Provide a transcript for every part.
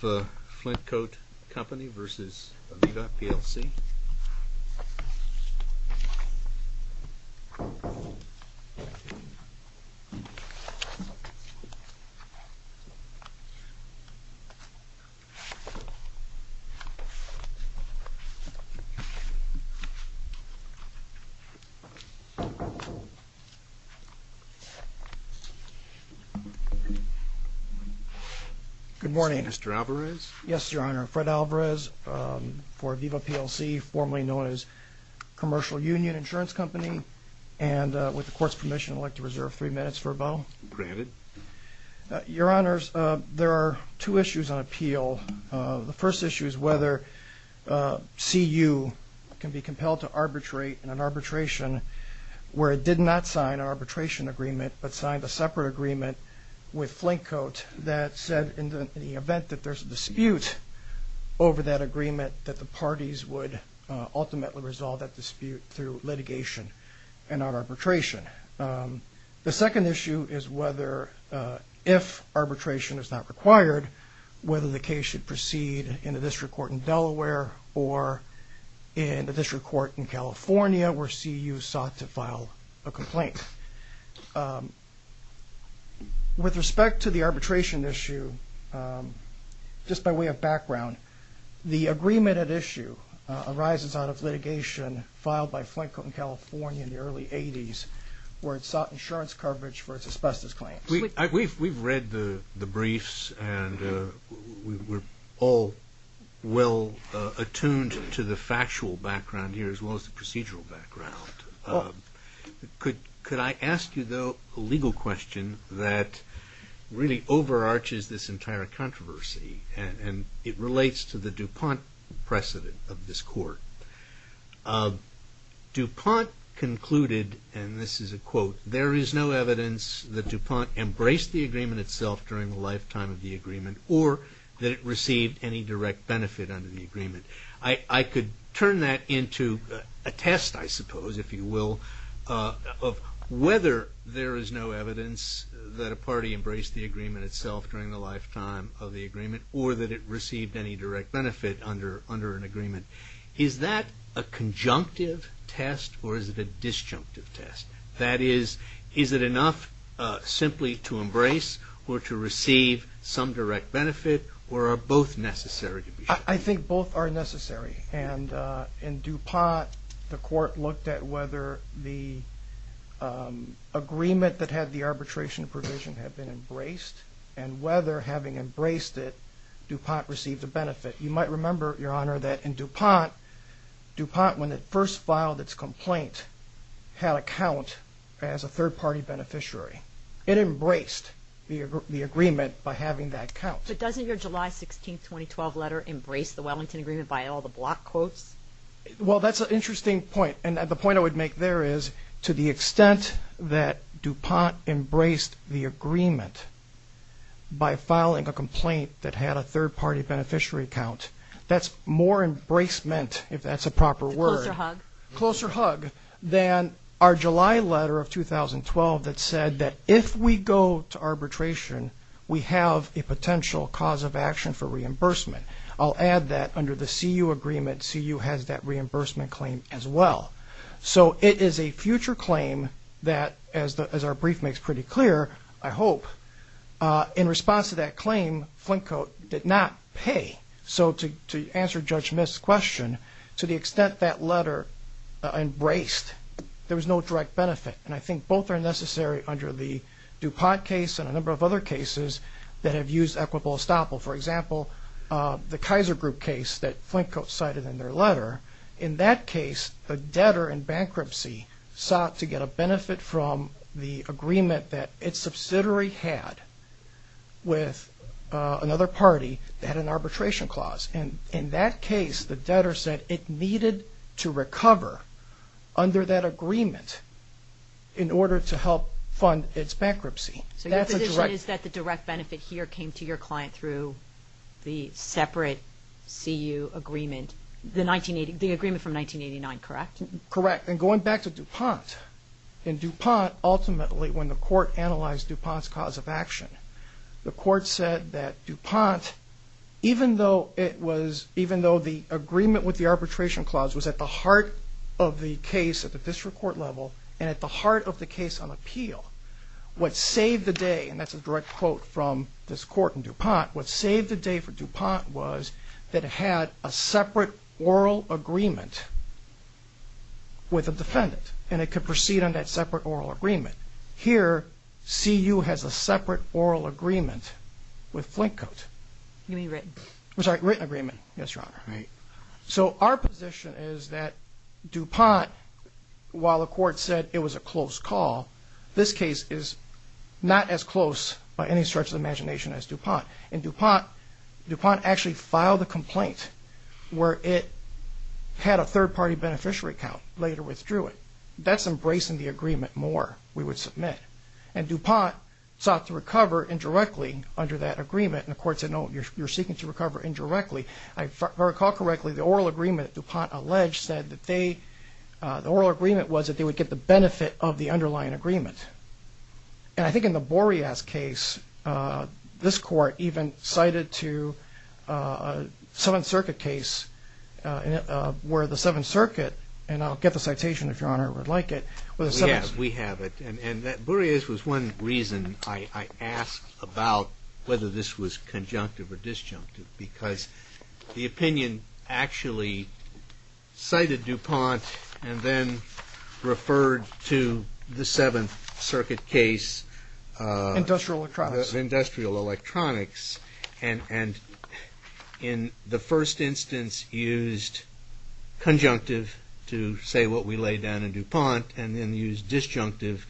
The Flintcoat Company versus Aviva, PLC. Good morning. Mr. Alvarez? Yes, Your Honor. Fred Alvarez for Aviva, PLC, formerly known as Commercial Union Insurance Company. And with the Court's permission, I'd like to reserve three minutes for a bow. Granted. Your Honors, there are two issues on appeal. The first issue is whether CU can be compelled to arbitrate in an arbitration where it did not sign an arbitration agreement but signed a separate agreement with Flintcoat that said in the event that there's a dispute over that agreement that the parties would ultimately resolve that dispute through litigation and not arbitration. The second issue is whether, if arbitration is not required, whether the case should proceed in a district court in Delaware or in a district court in California where CU sought to file a complaint. With respect to the arbitration issue, just by way of background, the agreement at issue arises out of litigation filed by Flintcoat in California in the early 80s where it sought insurance coverage for its asbestos claims. We've read the briefs and we're all well attuned to the factual background here as well as the procedural background. Could I ask you, though, a legal question that really overarches this entire controversy and it relates to the DuPont precedent of this court. DuPont concluded, and this is a quote, there is no evidence that DuPont embraced the agreement itself during the lifetime of the agreement or that it received any direct benefit under the agreement. I could turn that into a test, I suppose, if you will, of whether there is no evidence that a party embraced the agreement itself during the lifetime of the agreement or that it received any direct benefit under an agreement. Is that a conjunctive test or is it a disjunctive test? That is, is it enough simply to embrace or to receive some direct benefit or are both necessary? I think both are necessary and in DuPont the court looked at whether the agreement that had the arbitration provision had been embraced and whether having embraced it DuPont received a benefit. You might remember, Your Honor, that in DuPont, DuPont when it first filed its complaint had a count as a third party beneficiary. It embraced the agreement by having that count. But doesn't your July 16, 2012 letter embrace the Wellington Agreement by all the block quotes? Well, that's an interesting point and the point I would make there is to the extent that DuPont embraced the agreement by filing a complaint that had a third party beneficiary count, that's more embracement, if that's a proper word. A closer hug. Closer hug than our July letter of 2012 that said that if we go to arbitration we have a potential cause of action for reimbursement. I'll add that under the CU Agreement, CU has that reimbursement claim as well. So it is a future claim that, as our brief makes pretty clear, I hope, in response to that claim Flintcote did not pay. So to answer Judge Myth's question, to the extent that letter embraced, there was no direct benefit. And I think both are necessary under the DuPont case and a number of other cases that have used equitable estoppel. For example, the Kaiser Group case that Flintcote cited in their letter. In that case, the debtor in bankruptcy sought to get a benefit from the agreement that its subsidiary had with another party that had an arbitration clause. And in that case, the debtor said it needed to recover under that agreement in order to help fund its bankruptcy. So your position is that the direct benefit here came to your client through the separate CU Agreement, the agreement from 1989, correct? Correct. And going back to DuPont, in DuPont, ultimately when the court analyzed DuPont's cause of action, the court said that DuPont, even though it was, even though the agreement with the arbitration clause was at the heart of the case at the district court level and at the state level, what saved the day, and that's a direct quote from this court in DuPont, what saved the day for DuPont was that it had a separate oral agreement with a defendant and it could proceed on that separate oral agreement. Here, CU has a separate oral agreement with Flintcote. I'm sorry, written agreement, yes, Your Honor. So our position is that DuPont, while the court said it was a close call, this case is not as close by any stretch of the imagination as DuPont. In DuPont, DuPont actually filed a complaint where it had a third-party beneficiary count, later withdrew it. That's embracing the agreement more, we would submit. And DuPont sought to recover indirectly under that agreement, and the court said, no, you're seeking to recover indirectly. If I recall correctly, the oral agreement that DuPont alleged said that they, the oral And I think in the Boreas case, this court even cited to a Seventh Circuit case, where the Seventh Circuit, and I'll get the citation if Your Honor would like it. We have it, and Boreas was one reason I asked about whether this was conjunctive or disjunctive, because the opinion actually cited DuPont and then referred to the Seventh Circuit case. Industrial electronics. Industrial electronics, and in the first instance used conjunctive to say what we laid down in DuPont, and then used disjunctive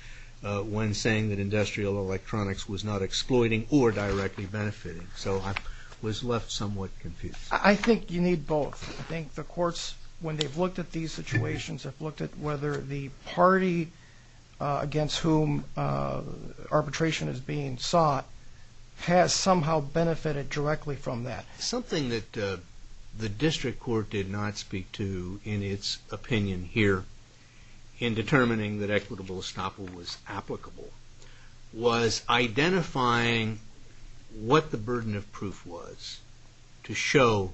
when saying that industrial electronics was not exploiting or directly benefiting. So I was left somewhat confused. I think you need both. I think the courts, when they've looked at these situations, have looked at whether the party against whom arbitration is being sought has somehow benefited directly from that. Something that the district court did not speak to in its opinion here in determining that equitable estoppel was applicable, was identifying what the burden of proof was to show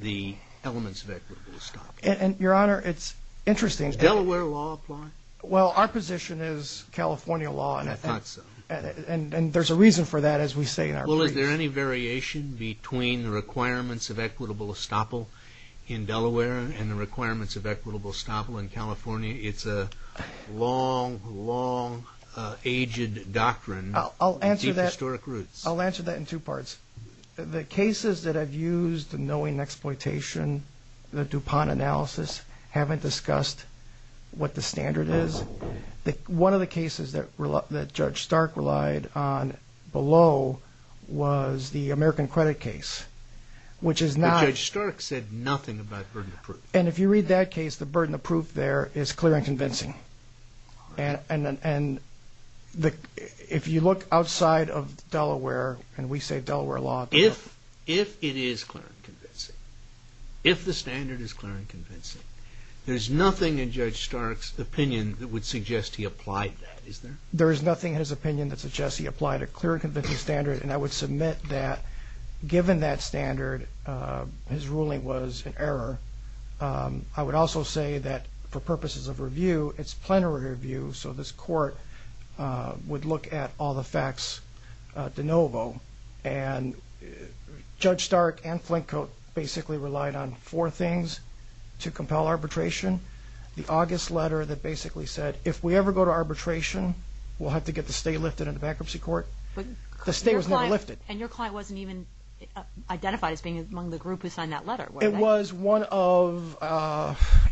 the elements of equitable estoppel. And Your Honor, it's interesting. Does Delaware law apply? Well, our position is California law, and I think, and there's a reason for that as we say in our briefs. Well, is there any variation between the requirements of equitable estoppel in Delaware and the requirements of equitable estoppel in California? It's a long, long-aged doctrine with deep historic roots. I'll answer that in two parts. The cases that I've used, the knowing and exploitation, the DuPont analysis, haven't discussed what the standard is. One of the cases that Judge Stark relied on below was the American credit case, which is not... But Judge Stark said nothing about burden of proof. And if you read that case, the burden of proof there is clear and convincing. And if you look outside of Delaware, and we say Delaware law... If it is clear and convincing, if the standard is clear and convincing, there's nothing in Judge Stark's opinion that would suggest he applied that, is there? There is nothing in his opinion that suggests he applied a clear and convincing standard, and I would submit that, given that standard, his ruling was an error. I would also say that, for purposes of review, it's plenary review, so this court would look at all the facts de novo. And Judge Stark and Flinko basically relied on four things to compel arbitration. The August letter that basically said, if we ever go to arbitration, we'll have to get the state lifted in the bankruptcy court. The state was never lifted. And your client wasn't even identified as being among the group who signed that letter, were they? It was one of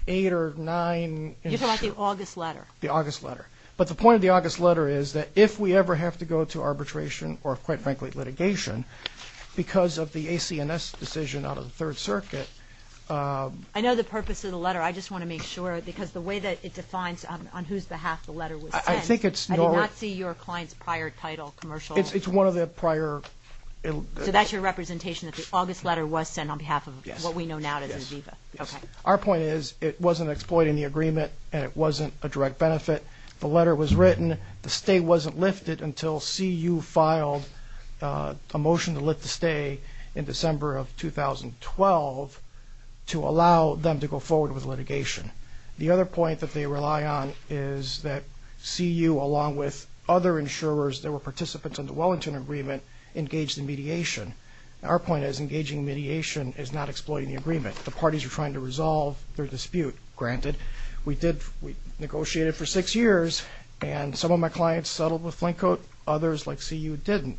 eight or nine... You're talking about the August letter? The August letter. But the point of the August letter is that, if we ever have to go to arbitration or, quite frankly, litigation, because of the ACNS decision out of the Third Circuit... I know the purpose of the letter. I just want to make sure, because the way that it defines on whose behalf the letter was sent... I think it's... I did not see your client's prior title, commercial... It's one of the prior... So that's your representation, that the August letter was sent on behalf of what we know now as Aviva? Yes. Yes. Okay. Our point is, it wasn't exploiting the agreement, and it wasn't a direct benefit. The letter was written. The state wasn't lifted until CU filed a motion to lift the stay in December of 2012 to allow them to go forward with litigation. The other point that they rely on is that CU, along with other insurers that were participants in the Wellington Agreement, engaged in mediation. Our point is, engaging in mediation is not exploiting the agreement. The parties are trying to resolve their dispute, granted. We did... We negotiated for six years, and some of my clients settled with Flintcoat. Others, like CU, didn't.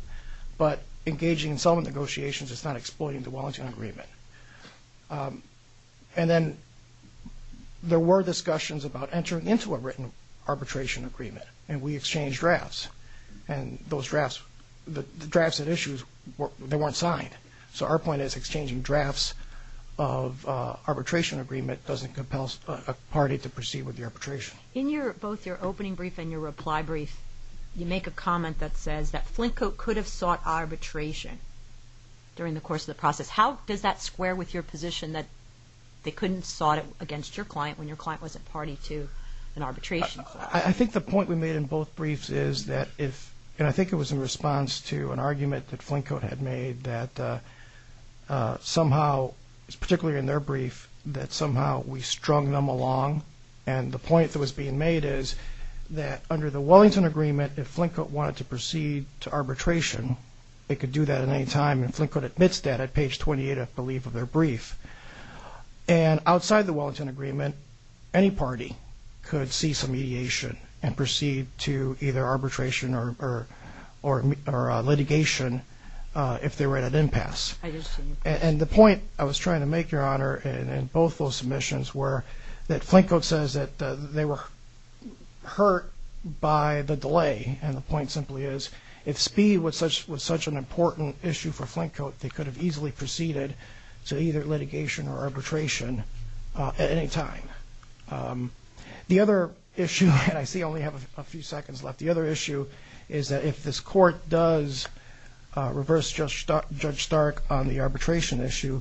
But engaging in settlement negotiations is not exploiting the Wellington Agreement. And then, there were discussions about entering into a written arbitration agreement. And we exchanged drafts. And those drafts, the drafts that issued, they weren't signed. So our point is, exchanging drafts of arbitration agreement doesn't compel a party to proceed with the arbitration. In both your opening brief and your reply brief, you make a comment that says that Flintcoat could have sought arbitration during the course of the process. How does that square with your position that they couldn't have sought it against your client when your client wasn't party to an arbitration clause? I think the point we made in both briefs is that if... And I think it was in response to an argument that Flintcoat had made that somehow, particularly in their brief, that somehow we strung them along. And the point that was being made is that under the Wellington Agreement, if Flintcoat wanted to proceed to arbitration, they could do that at any time. And Flintcoat admits that at page 28, I believe, of their brief. And outside the Wellington Agreement, any party could see some mediation and proceed to either arbitration or litigation if they were at an impasse. And the point I was trying to make, Your Honor, in both those submissions, were that Flintcoat says that they were hurt by the delay. And the point simply is if speed was such an important issue for Flintcoat, they could have easily proceeded to either litigation or arbitration at any time. The other issue, and I see I only have a few seconds left, the other issue is that if this Court does reverse Judge Stark on the arbitration issue,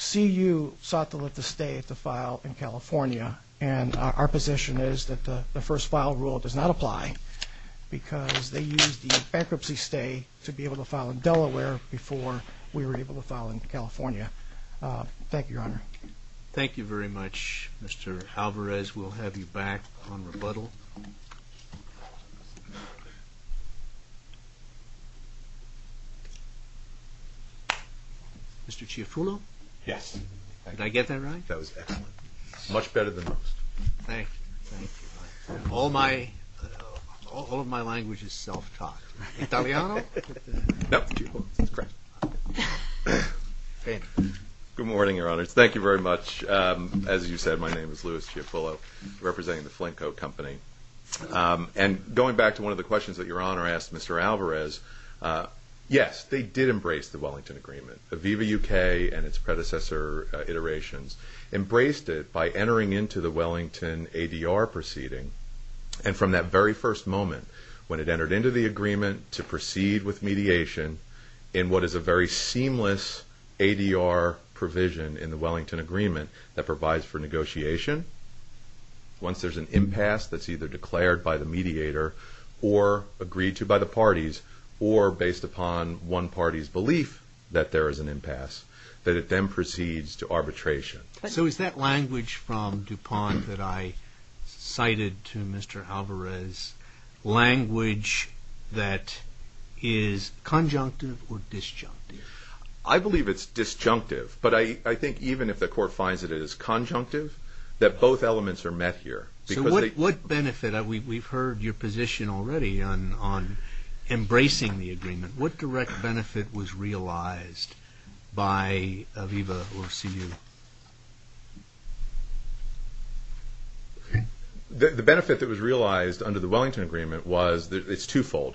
CU sought to let this stay at the file in California. And our position is that the first file rule does not apply because they used the bankruptcy stay to be able to file in Delaware before we were able to file in California. Thank you, Your Honor. Thank you very much, Mr. Alvarez. We'll have you back on rebuttal. Mr. Ciafullo? Yes. Did I get that right? That was excellent. Much better than most. Thank you. All of my language is self-taught. Italiano? No, it's correct. Good morning, Your Honors. Thank you very much. As you said, my name is Louis Ciafullo, representing the Flintcoat Company. And going back to one of the questions that Your Honor asked Mr. Alvarez, yes, they did embrace the Wellington Agreement. Aviva UK and its predecessor iterations embraced it by entering into the Wellington ADR proceeding. And from that very first moment, when it entered into the agreement to proceed with mediation in what is a very seamless ADR provision in the Wellington Agreement that provides for negotiation, once there's an impasse that's either declared by the mediator or agreed to by the parties or based upon one party's belief that there is an impasse, that it then proceeds to arbitration. So is that language from DuPont that I cited to Mr. Alvarez language that is conjunctive or disjunctive? I believe it's disjunctive. But I think even if the Court finds that it is conjunctive, that both elements are met here. So what benefit? We've heard your position already on embracing the agreement. What direct benefit was realized by Aviva or CU? The benefit that was realized under the Wellington Agreement was that it's twofold.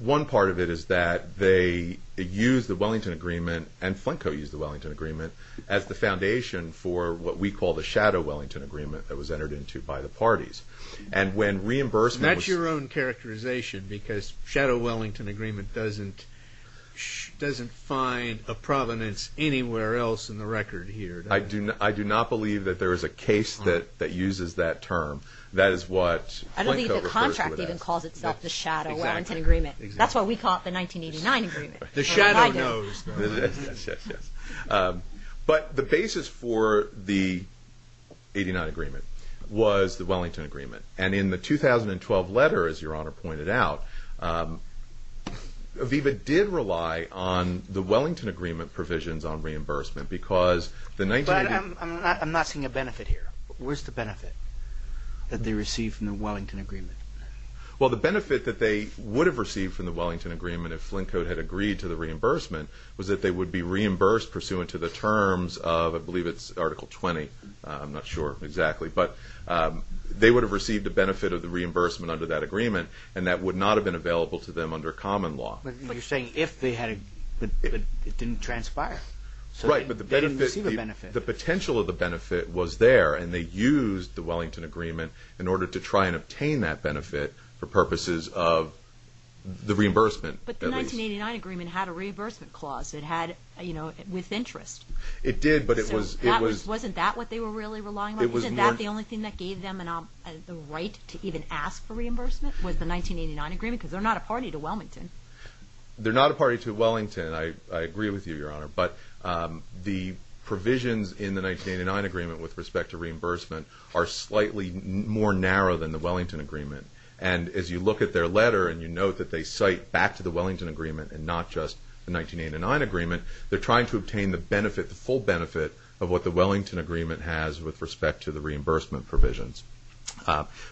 One part of it is that they used the Wellington Agreement and Flinko used the Wellington Agreement as the foundation for what we call the Shadow Wellington Agreement that was entered into by the parties. And when reimbursement was... Flinko doesn't find a provenance anywhere else in the record here. I do not believe that there is a case that uses that term. That is what Flinko refers to it as. I don't think the contract even calls itself the Shadow Wellington Agreement. That's why we call it the 1989 Agreement. The shadow knows. Yes, yes, yes. But the basis for the 1989 Agreement was the Wellington Agreement. And in the 2012 letter, as Your Honor pointed out, Aviva did rely on the Wellington Agreement provisions on reimbursement because the 1989... But I'm not seeing a benefit here. Where's the benefit that they received from the Wellington Agreement? Well, the benefit that they would have received from the Wellington Agreement if Flinko had agreed to the reimbursement was that they would be reimbursed pursuant to the terms of, I believe it's Article 20. I'm not sure exactly. But they would have received the benefit of the reimbursement under that agreement, and that would not have been available to them under common law. But you're saying if they had... It didn't transpire. Right, but the benefit... So they didn't receive a benefit. The potential of the benefit was there, and they used the Wellington Agreement in order to try and obtain that benefit for purposes of the reimbursement, at least. But the 1989 Agreement had a reimbursement clause. It had, you know, with interest. It did, but it was... So wasn't that what they were really relying on? Isn't that the only thing that gave them the right to even ask for reimbursement was the 1989 Agreement? Because they're not a party to Wellington. They're not a party to Wellington. I agree with you, Your Honor. But the provisions in the 1989 Agreement with respect to reimbursement are slightly more narrow than the Wellington Agreement. And as you look at their letter and you note that they cite back to the Wellington Agreement and not just the 1989 Agreement, they're trying to obtain the benefit, the full benefit, of what the Wellington Agreement has with respect to the reimbursement provisions.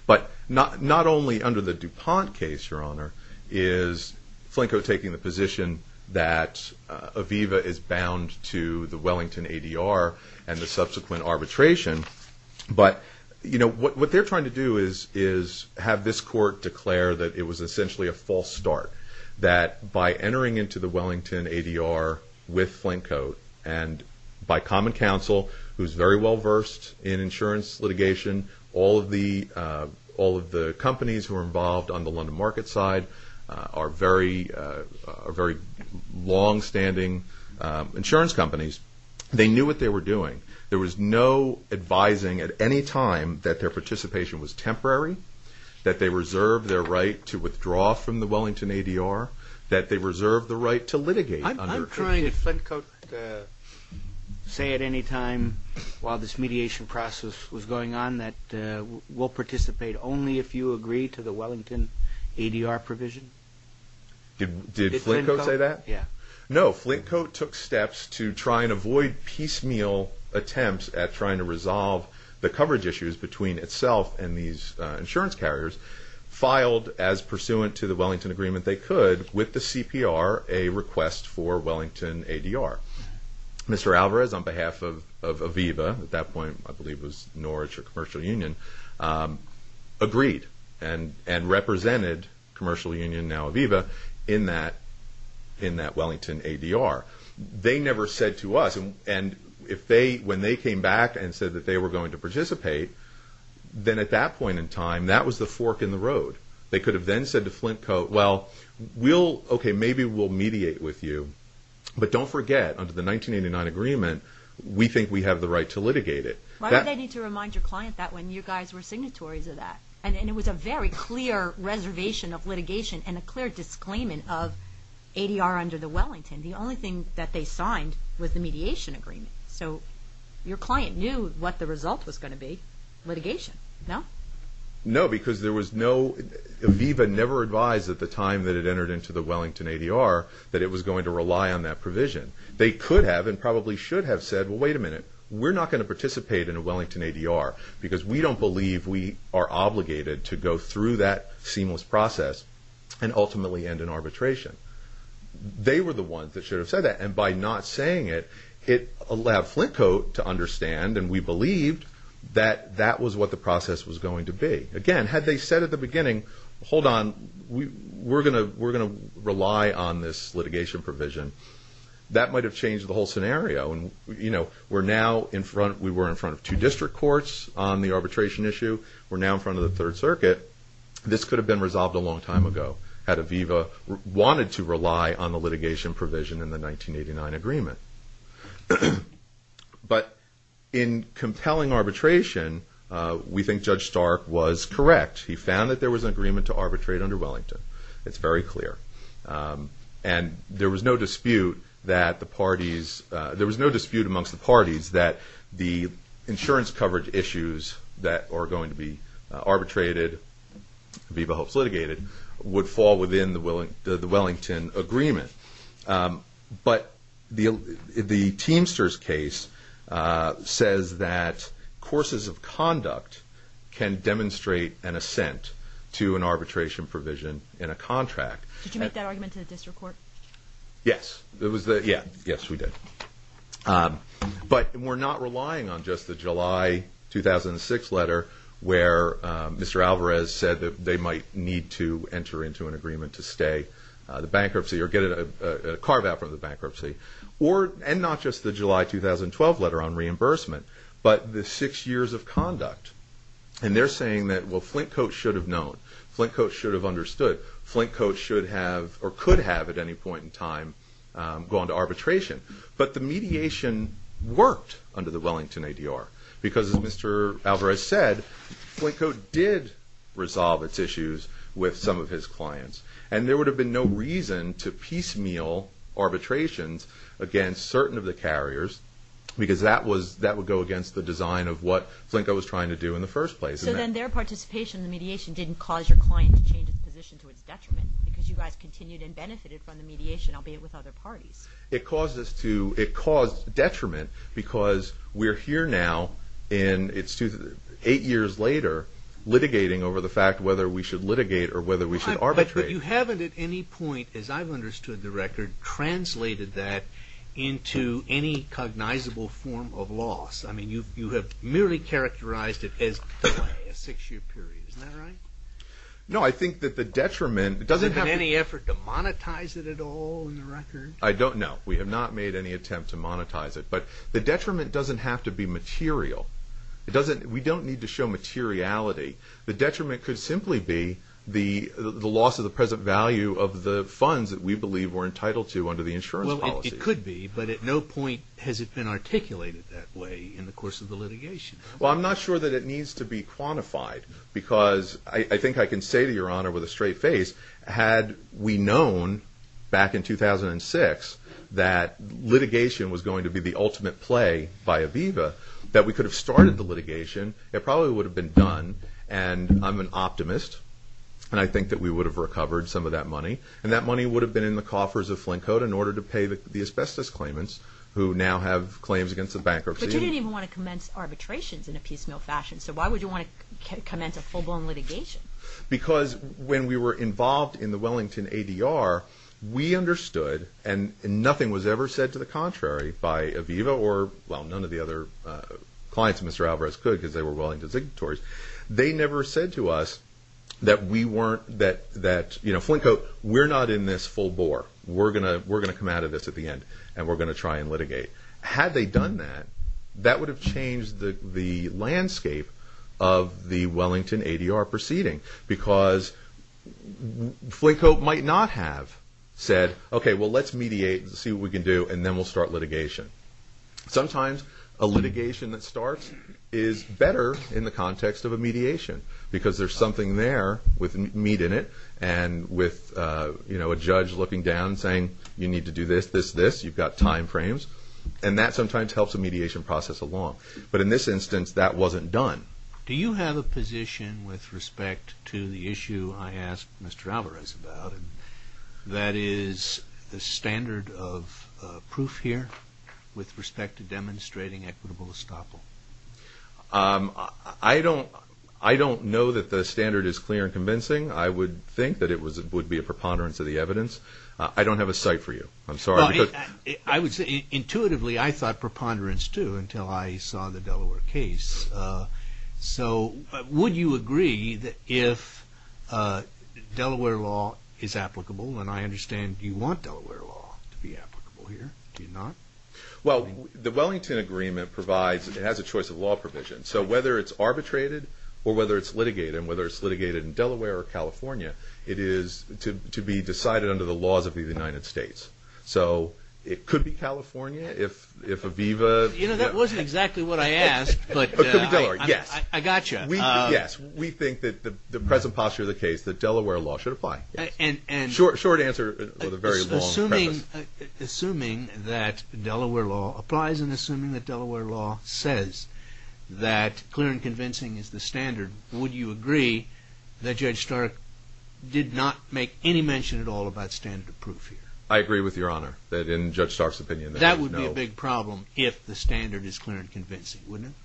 But not only under the DuPont case, Your Honor, is Flinko taking the position that Aviva is bound to the Wellington ADR and the subsequent arbitration, but, you know, what they're trying to do is have this court declare that it was essentially a false start, that by entering into the Wellington ADR with Flinko and by common counsel, who's very well versed in insurance litigation, all of the companies who are involved on the London market side are very longstanding insurance companies, they knew what they were doing. There was no advising at any time that their participation was temporary, that they reserved their right to withdraw from the Wellington ADR, that they reserved the right to litigate. I'm trying to... Did Flinko say at any time while this mediation process was going on that we'll participate only if you agree to the Wellington ADR provision? Did Flinko say that? Yeah. No, Flinko took steps to try and avoid piecemeal attempts at trying to resolve the coverage issues between itself and these insurance carriers, filed as pursuant to the Wellington Agreement they could with the CPR a request for Wellington ADR. Mr. Alvarez, on behalf of Aviva, at that point I believe it was Norwich or Commercial Union, agreed and represented Commercial Union, now Aviva, in that Wellington ADR. They never said to us, and when they came back and said that they were going to participate, then at that point in time, that was the fork in the road. They could have then said to Flinko, well, maybe we'll mediate with you, but don't forget, under the 1989 agreement, we think we have the right to litigate it. Why would they need to remind your client that when you guys were signatories of that? And it was a very clear reservation of litigation and a clear disclaimant of ADR under the Wellington. The only thing that they signed was the mediation agreement. So your client knew what the result was going to be, litigation, no? No, because there was no... at the time that it entered into the Wellington ADR, that it was going to rely on that provision. They could have and probably should have said, well, wait a minute, we're not going to participate in a Wellington ADR because we don't believe we are obligated to go through that seamless process and ultimately end in arbitration. They were the ones that should have said that, and by not saying it, it allowed Flinko to understand, that that was what the process was going to be. Again, had they said at the beginning, hold on, we're going to rely on this litigation provision, that might have changed the whole scenario. And we're now in front... we were in front of two district courts on the arbitration issue. We're now in front of the Third Circuit. This could have been resolved a long time ago had Aviva wanted to rely on the litigation provision in the 1989 agreement. But in compelling arbitration, we think Judge Stark was correct. He found that there was an agreement to arbitrate under Wellington. It's very clear. And there was no dispute that the parties... there was no dispute amongst the parties that the insurance coverage issues that are going to be arbitrated, Aviva hopes litigated, But the Teamsters case says that courses of conduct can demonstrate an assent to an arbitration provision in a contract. Did you make that argument to the district court? Yes. Yes, we did. But we're not relying on just the July 2006 letter where Mr. Alvarez said that they might need to enter into an agreement to stay the bankruptcy or get a carve-out from the bankruptcy. And not just the July 2012 letter on reimbursement, but the six years of conduct. And they're saying that, well, Flintcoat should have known. Flintcoat should have understood. Flintcoat should have, or could have at any point in time, gone to arbitration. But the mediation worked under the Wellington ADR because, as Mr. Alvarez said, Flintcoat did resolve its issues with some of his clients. And there would have been no reason to piecemeal arbitrations against certain of the carriers because that would go against the design of what Flintcoat was trying to do in the first place. So then their participation in the mediation didn't cause your client to change its position to its detriment because you guys continued and benefited from the mediation, albeit with other parties. It caused detriment because we're here now, and it's eight years later, litigating over the fact whether we should litigate or whether we should arbitrate. But you haven't at any point, as I've understood the record, translated that into any cognizable form of loss. I mean, you have merely characterized it as delay, a six-year period. Isn't that right? No, I think that the detriment... Has there been any effort to monetize it at all in the record? I don't know. We have not made any attempt to monetize it. But the detriment doesn't have to be material. We don't need to show materiality. The detriment could simply be the loss of the present value of the funds that we believe we're entitled to under the insurance policy. Well, it could be, but at no point has it been articulated that way in the course of the litigation. Well, I'm not sure that it needs to be quantified because I think I can say to Your Honor with a straight face, had we known back in 2006 that litigation was going to be the ultimate play by Aviva, that we could have started the litigation. It probably would have been done, and I'm an optimist, and I think that we would have recovered some of that money, and that money would have been in the coffers of Flinkhood in order to pay the asbestos claimants who now have claims against the bankruptcy. But you didn't even want to commence arbitrations in a piecemeal fashion, so why would you want to commence a full-blown litigation? Because when we were involved in the Wellington ADR, we understood, and nothing was ever said to the contrary by Aviva or, well, none of the other clients of Mr. Alvarez could because they were Wellington signatories. They never said to us that, you know, Flinkhood, we're not in this full bore. We're going to come out of this at the end, and we're going to try and litigate. Had they done that, that would have changed the landscape of the Wellington ADR proceeding because Flinkhood might not have said, okay, well, let's mediate and see what we can do, and then we'll start litigation. Sometimes a litigation that starts is better in the context of a mediation because there's something there with meat in it and with, you know, a judge looking down saying, you need to do this, this, this. You've got time frames, and that sometimes helps a mediation process along. But in this instance, that wasn't done. Do you have a position with respect to the issue I asked Mr. Alvarez about, and that is the standard of proof here with respect to demonstrating equitable estoppel? I don't know that the standard is clear and convincing. I would think that it would be a preponderance of the evidence. I don't have a cite for you. I'm sorry. Intuitively, I thought preponderance, too, until I saw the Delaware case. So would you agree that if Delaware law is applicable, and I understand you want Delaware law to be applicable here. Do you not? Well, the Wellington Agreement provides, it has a choice of law provision. So whether it's arbitrated or whether it's litigated, and whether it's litigated in Delaware or California, it is to be decided under the laws of the United States. So it could be California if Aviva... You know, that wasn't exactly what I asked, but... It could be Delaware, yes. I got you. Yes, we think that the present posture of the case, that Delaware law should apply. Short answer with a very long preface. Assuming that Delaware law applies and assuming that Delaware law says that clear and convincing is the standard, would you agree that Judge Stark did not make any mention at all about standard of proof here? I agree with Your Honor that in Judge Stark's opinion... That would be a big problem if the standard is clear and convincing, wouldn't it?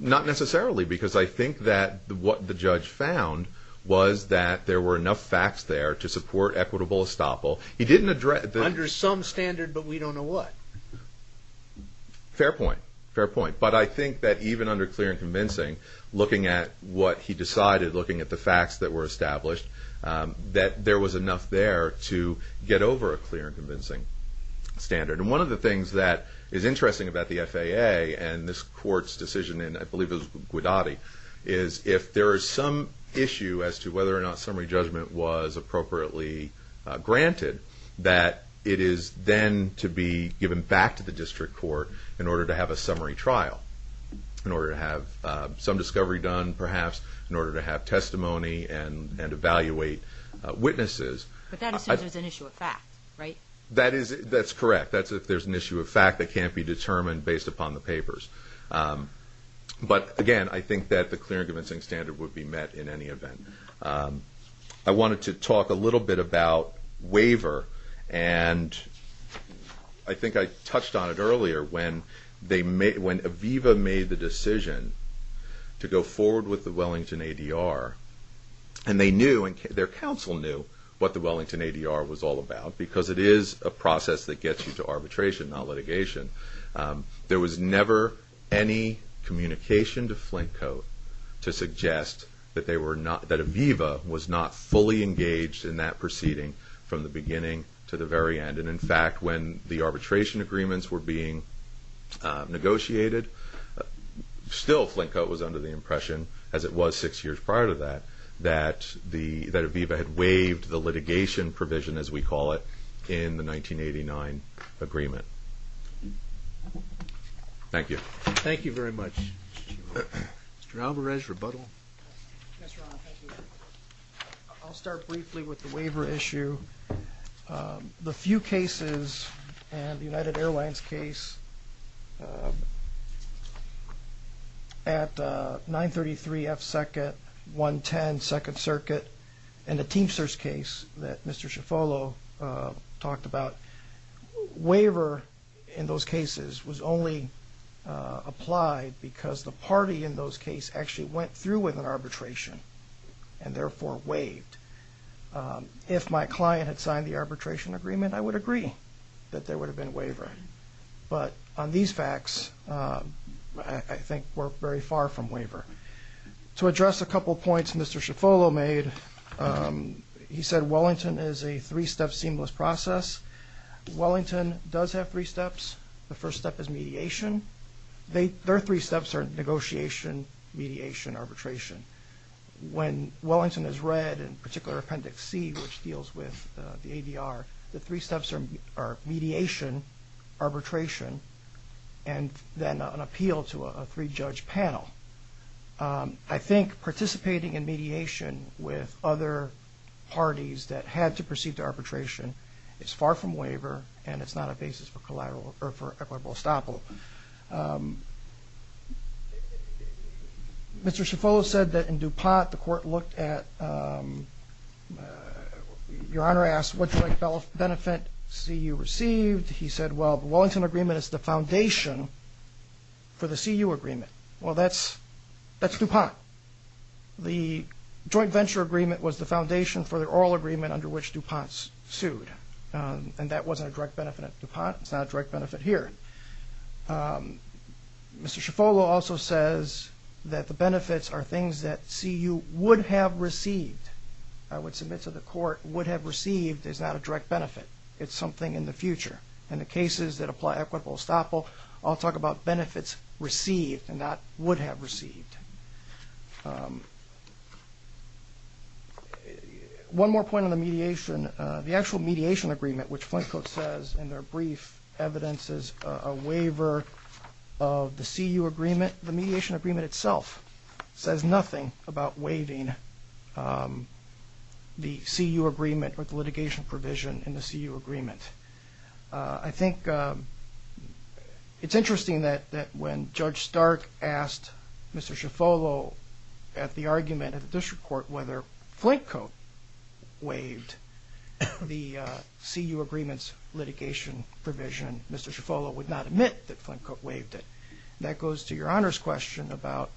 Not necessarily, because I think that what the judge found was that there were enough facts there to support equitable estoppel. He didn't address... Under some standard, but we don't know what. Fair point, fair point. But I think that even under clear and convincing, looking at what he decided, looking at the facts that were established, that there was enough there to get over a clear and convincing standard. And one of the things that is interesting about the FAA and this Court's decision, and I believe it was Guidotti, is if there is some issue as to whether or not that it is then to be given back to the district court in order to have a summary trial, in order to have some discovery done, perhaps, in order to have testimony and evaluate witnesses... But that assumes there's an issue of fact, right? That's correct. That's if there's an issue of fact that can't be determined based upon the papers. But again, I think that the clear and convincing standard would be met in any event. I wanted to talk a little bit about waiver. And I think I touched on it earlier when Aviva made the decision to go forward with the Wellington ADR. And they knew, and their counsel knew, what the Wellington ADR was all about, because it is a process that gets you to arbitration, not litigation. There was never any communication to Flintcote to suggest that Aviva was not fully engaged in that proceeding from the beginning to the very end. And in fact, when the arbitration agreements were being negotiated, still Flintcote was under the impression, as it was six years prior to that, that Aviva had waived the litigation provision, as we call it, in the 1989 agreement. Thank you. Thank you very much. Mr. Alvarez, rebuttal. Yes, Your Honor. Thank you. I'll start briefly with the waiver issue. The few cases, and the United Airlines case, at 933 F 2nd, 110 2nd Circuit, and the Teamsters case that Mr. Schifolo talked about, waiver in those cases was only applied because the party in those cases actually went through with an arbitration and therefore waived. If my client had signed the arbitration agreement, I would agree that there would have been a waiver. But on these facts, I think we're very far from waiver. To address a couple points Mr. Schifolo made, he said Wellington is a three-step seamless process. Wellington does have three steps. The first step is mediation. Their three steps are negotiation, mediation, arbitration. When Wellington is read, in particular Appendix C, which deals with the ADR, the three steps are mediation, arbitration, and then an appeal to a three-judge panel. I think participating in mediation with other parties that had to proceed to arbitration is far from waiver, and it's not a basis for collateral or for equitable estoppel. Mr. Schifolo said that in DuPont, the court looked at... Your Honor asked what joint benefit CU received. He said, well, the Wellington agreement is the foundation for the CU agreement. Well, that's DuPont. The joint venture agreement was the foundation for the oral agreement under which DuPont sued, and that wasn't a direct benefit at DuPont. It's not a direct benefit here. Mr. Schifolo also says that the benefits are things that CU would have received. I would submit to the court, would have received is not a direct benefit. It's something in the future. In the cases that apply equitable estoppel, I'll talk about benefits received and not would have received. One more point on the mediation. The actual mediation agreement, which Flintcote says in their brief evidences a waiver of the CU agreement, the mediation agreement itself says nothing about waiving the CU agreement or the litigation provision in the CU agreement. I think it's interesting that when Judge Stark asked Mr. Schifolo at the argument at the district court whether Flintcote waived the CU agreement's litigation provision, Mr. Schifolo would not admit that Flintcote waived it. That goes to Your Honor's question about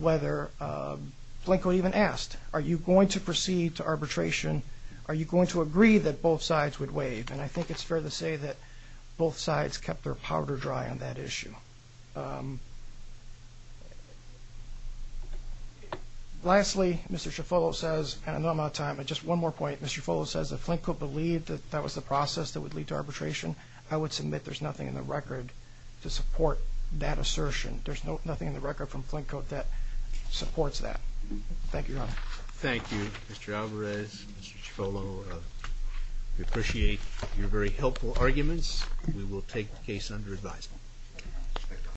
whether Flintcote even asked, are you going to proceed to arbitration? Are you going to agree that both sides would waive? And I think it's fair to say that both sides kept their powder dry on that issue. Lastly, Mr. Schifolo says, and I know I'm out of time, but just one more point. Mr. Schifolo says if Flintcote believed that that was the process that would lead to arbitration, I would submit there's nothing in the record to support that assertion. There's nothing in the record from Flintcote that supports that. Thank you, Your Honor. Thank you, Mr. Alvarez, Mr. Schifolo. We appreciate your very helpful arguments. We will take the case under advisement. Thank you.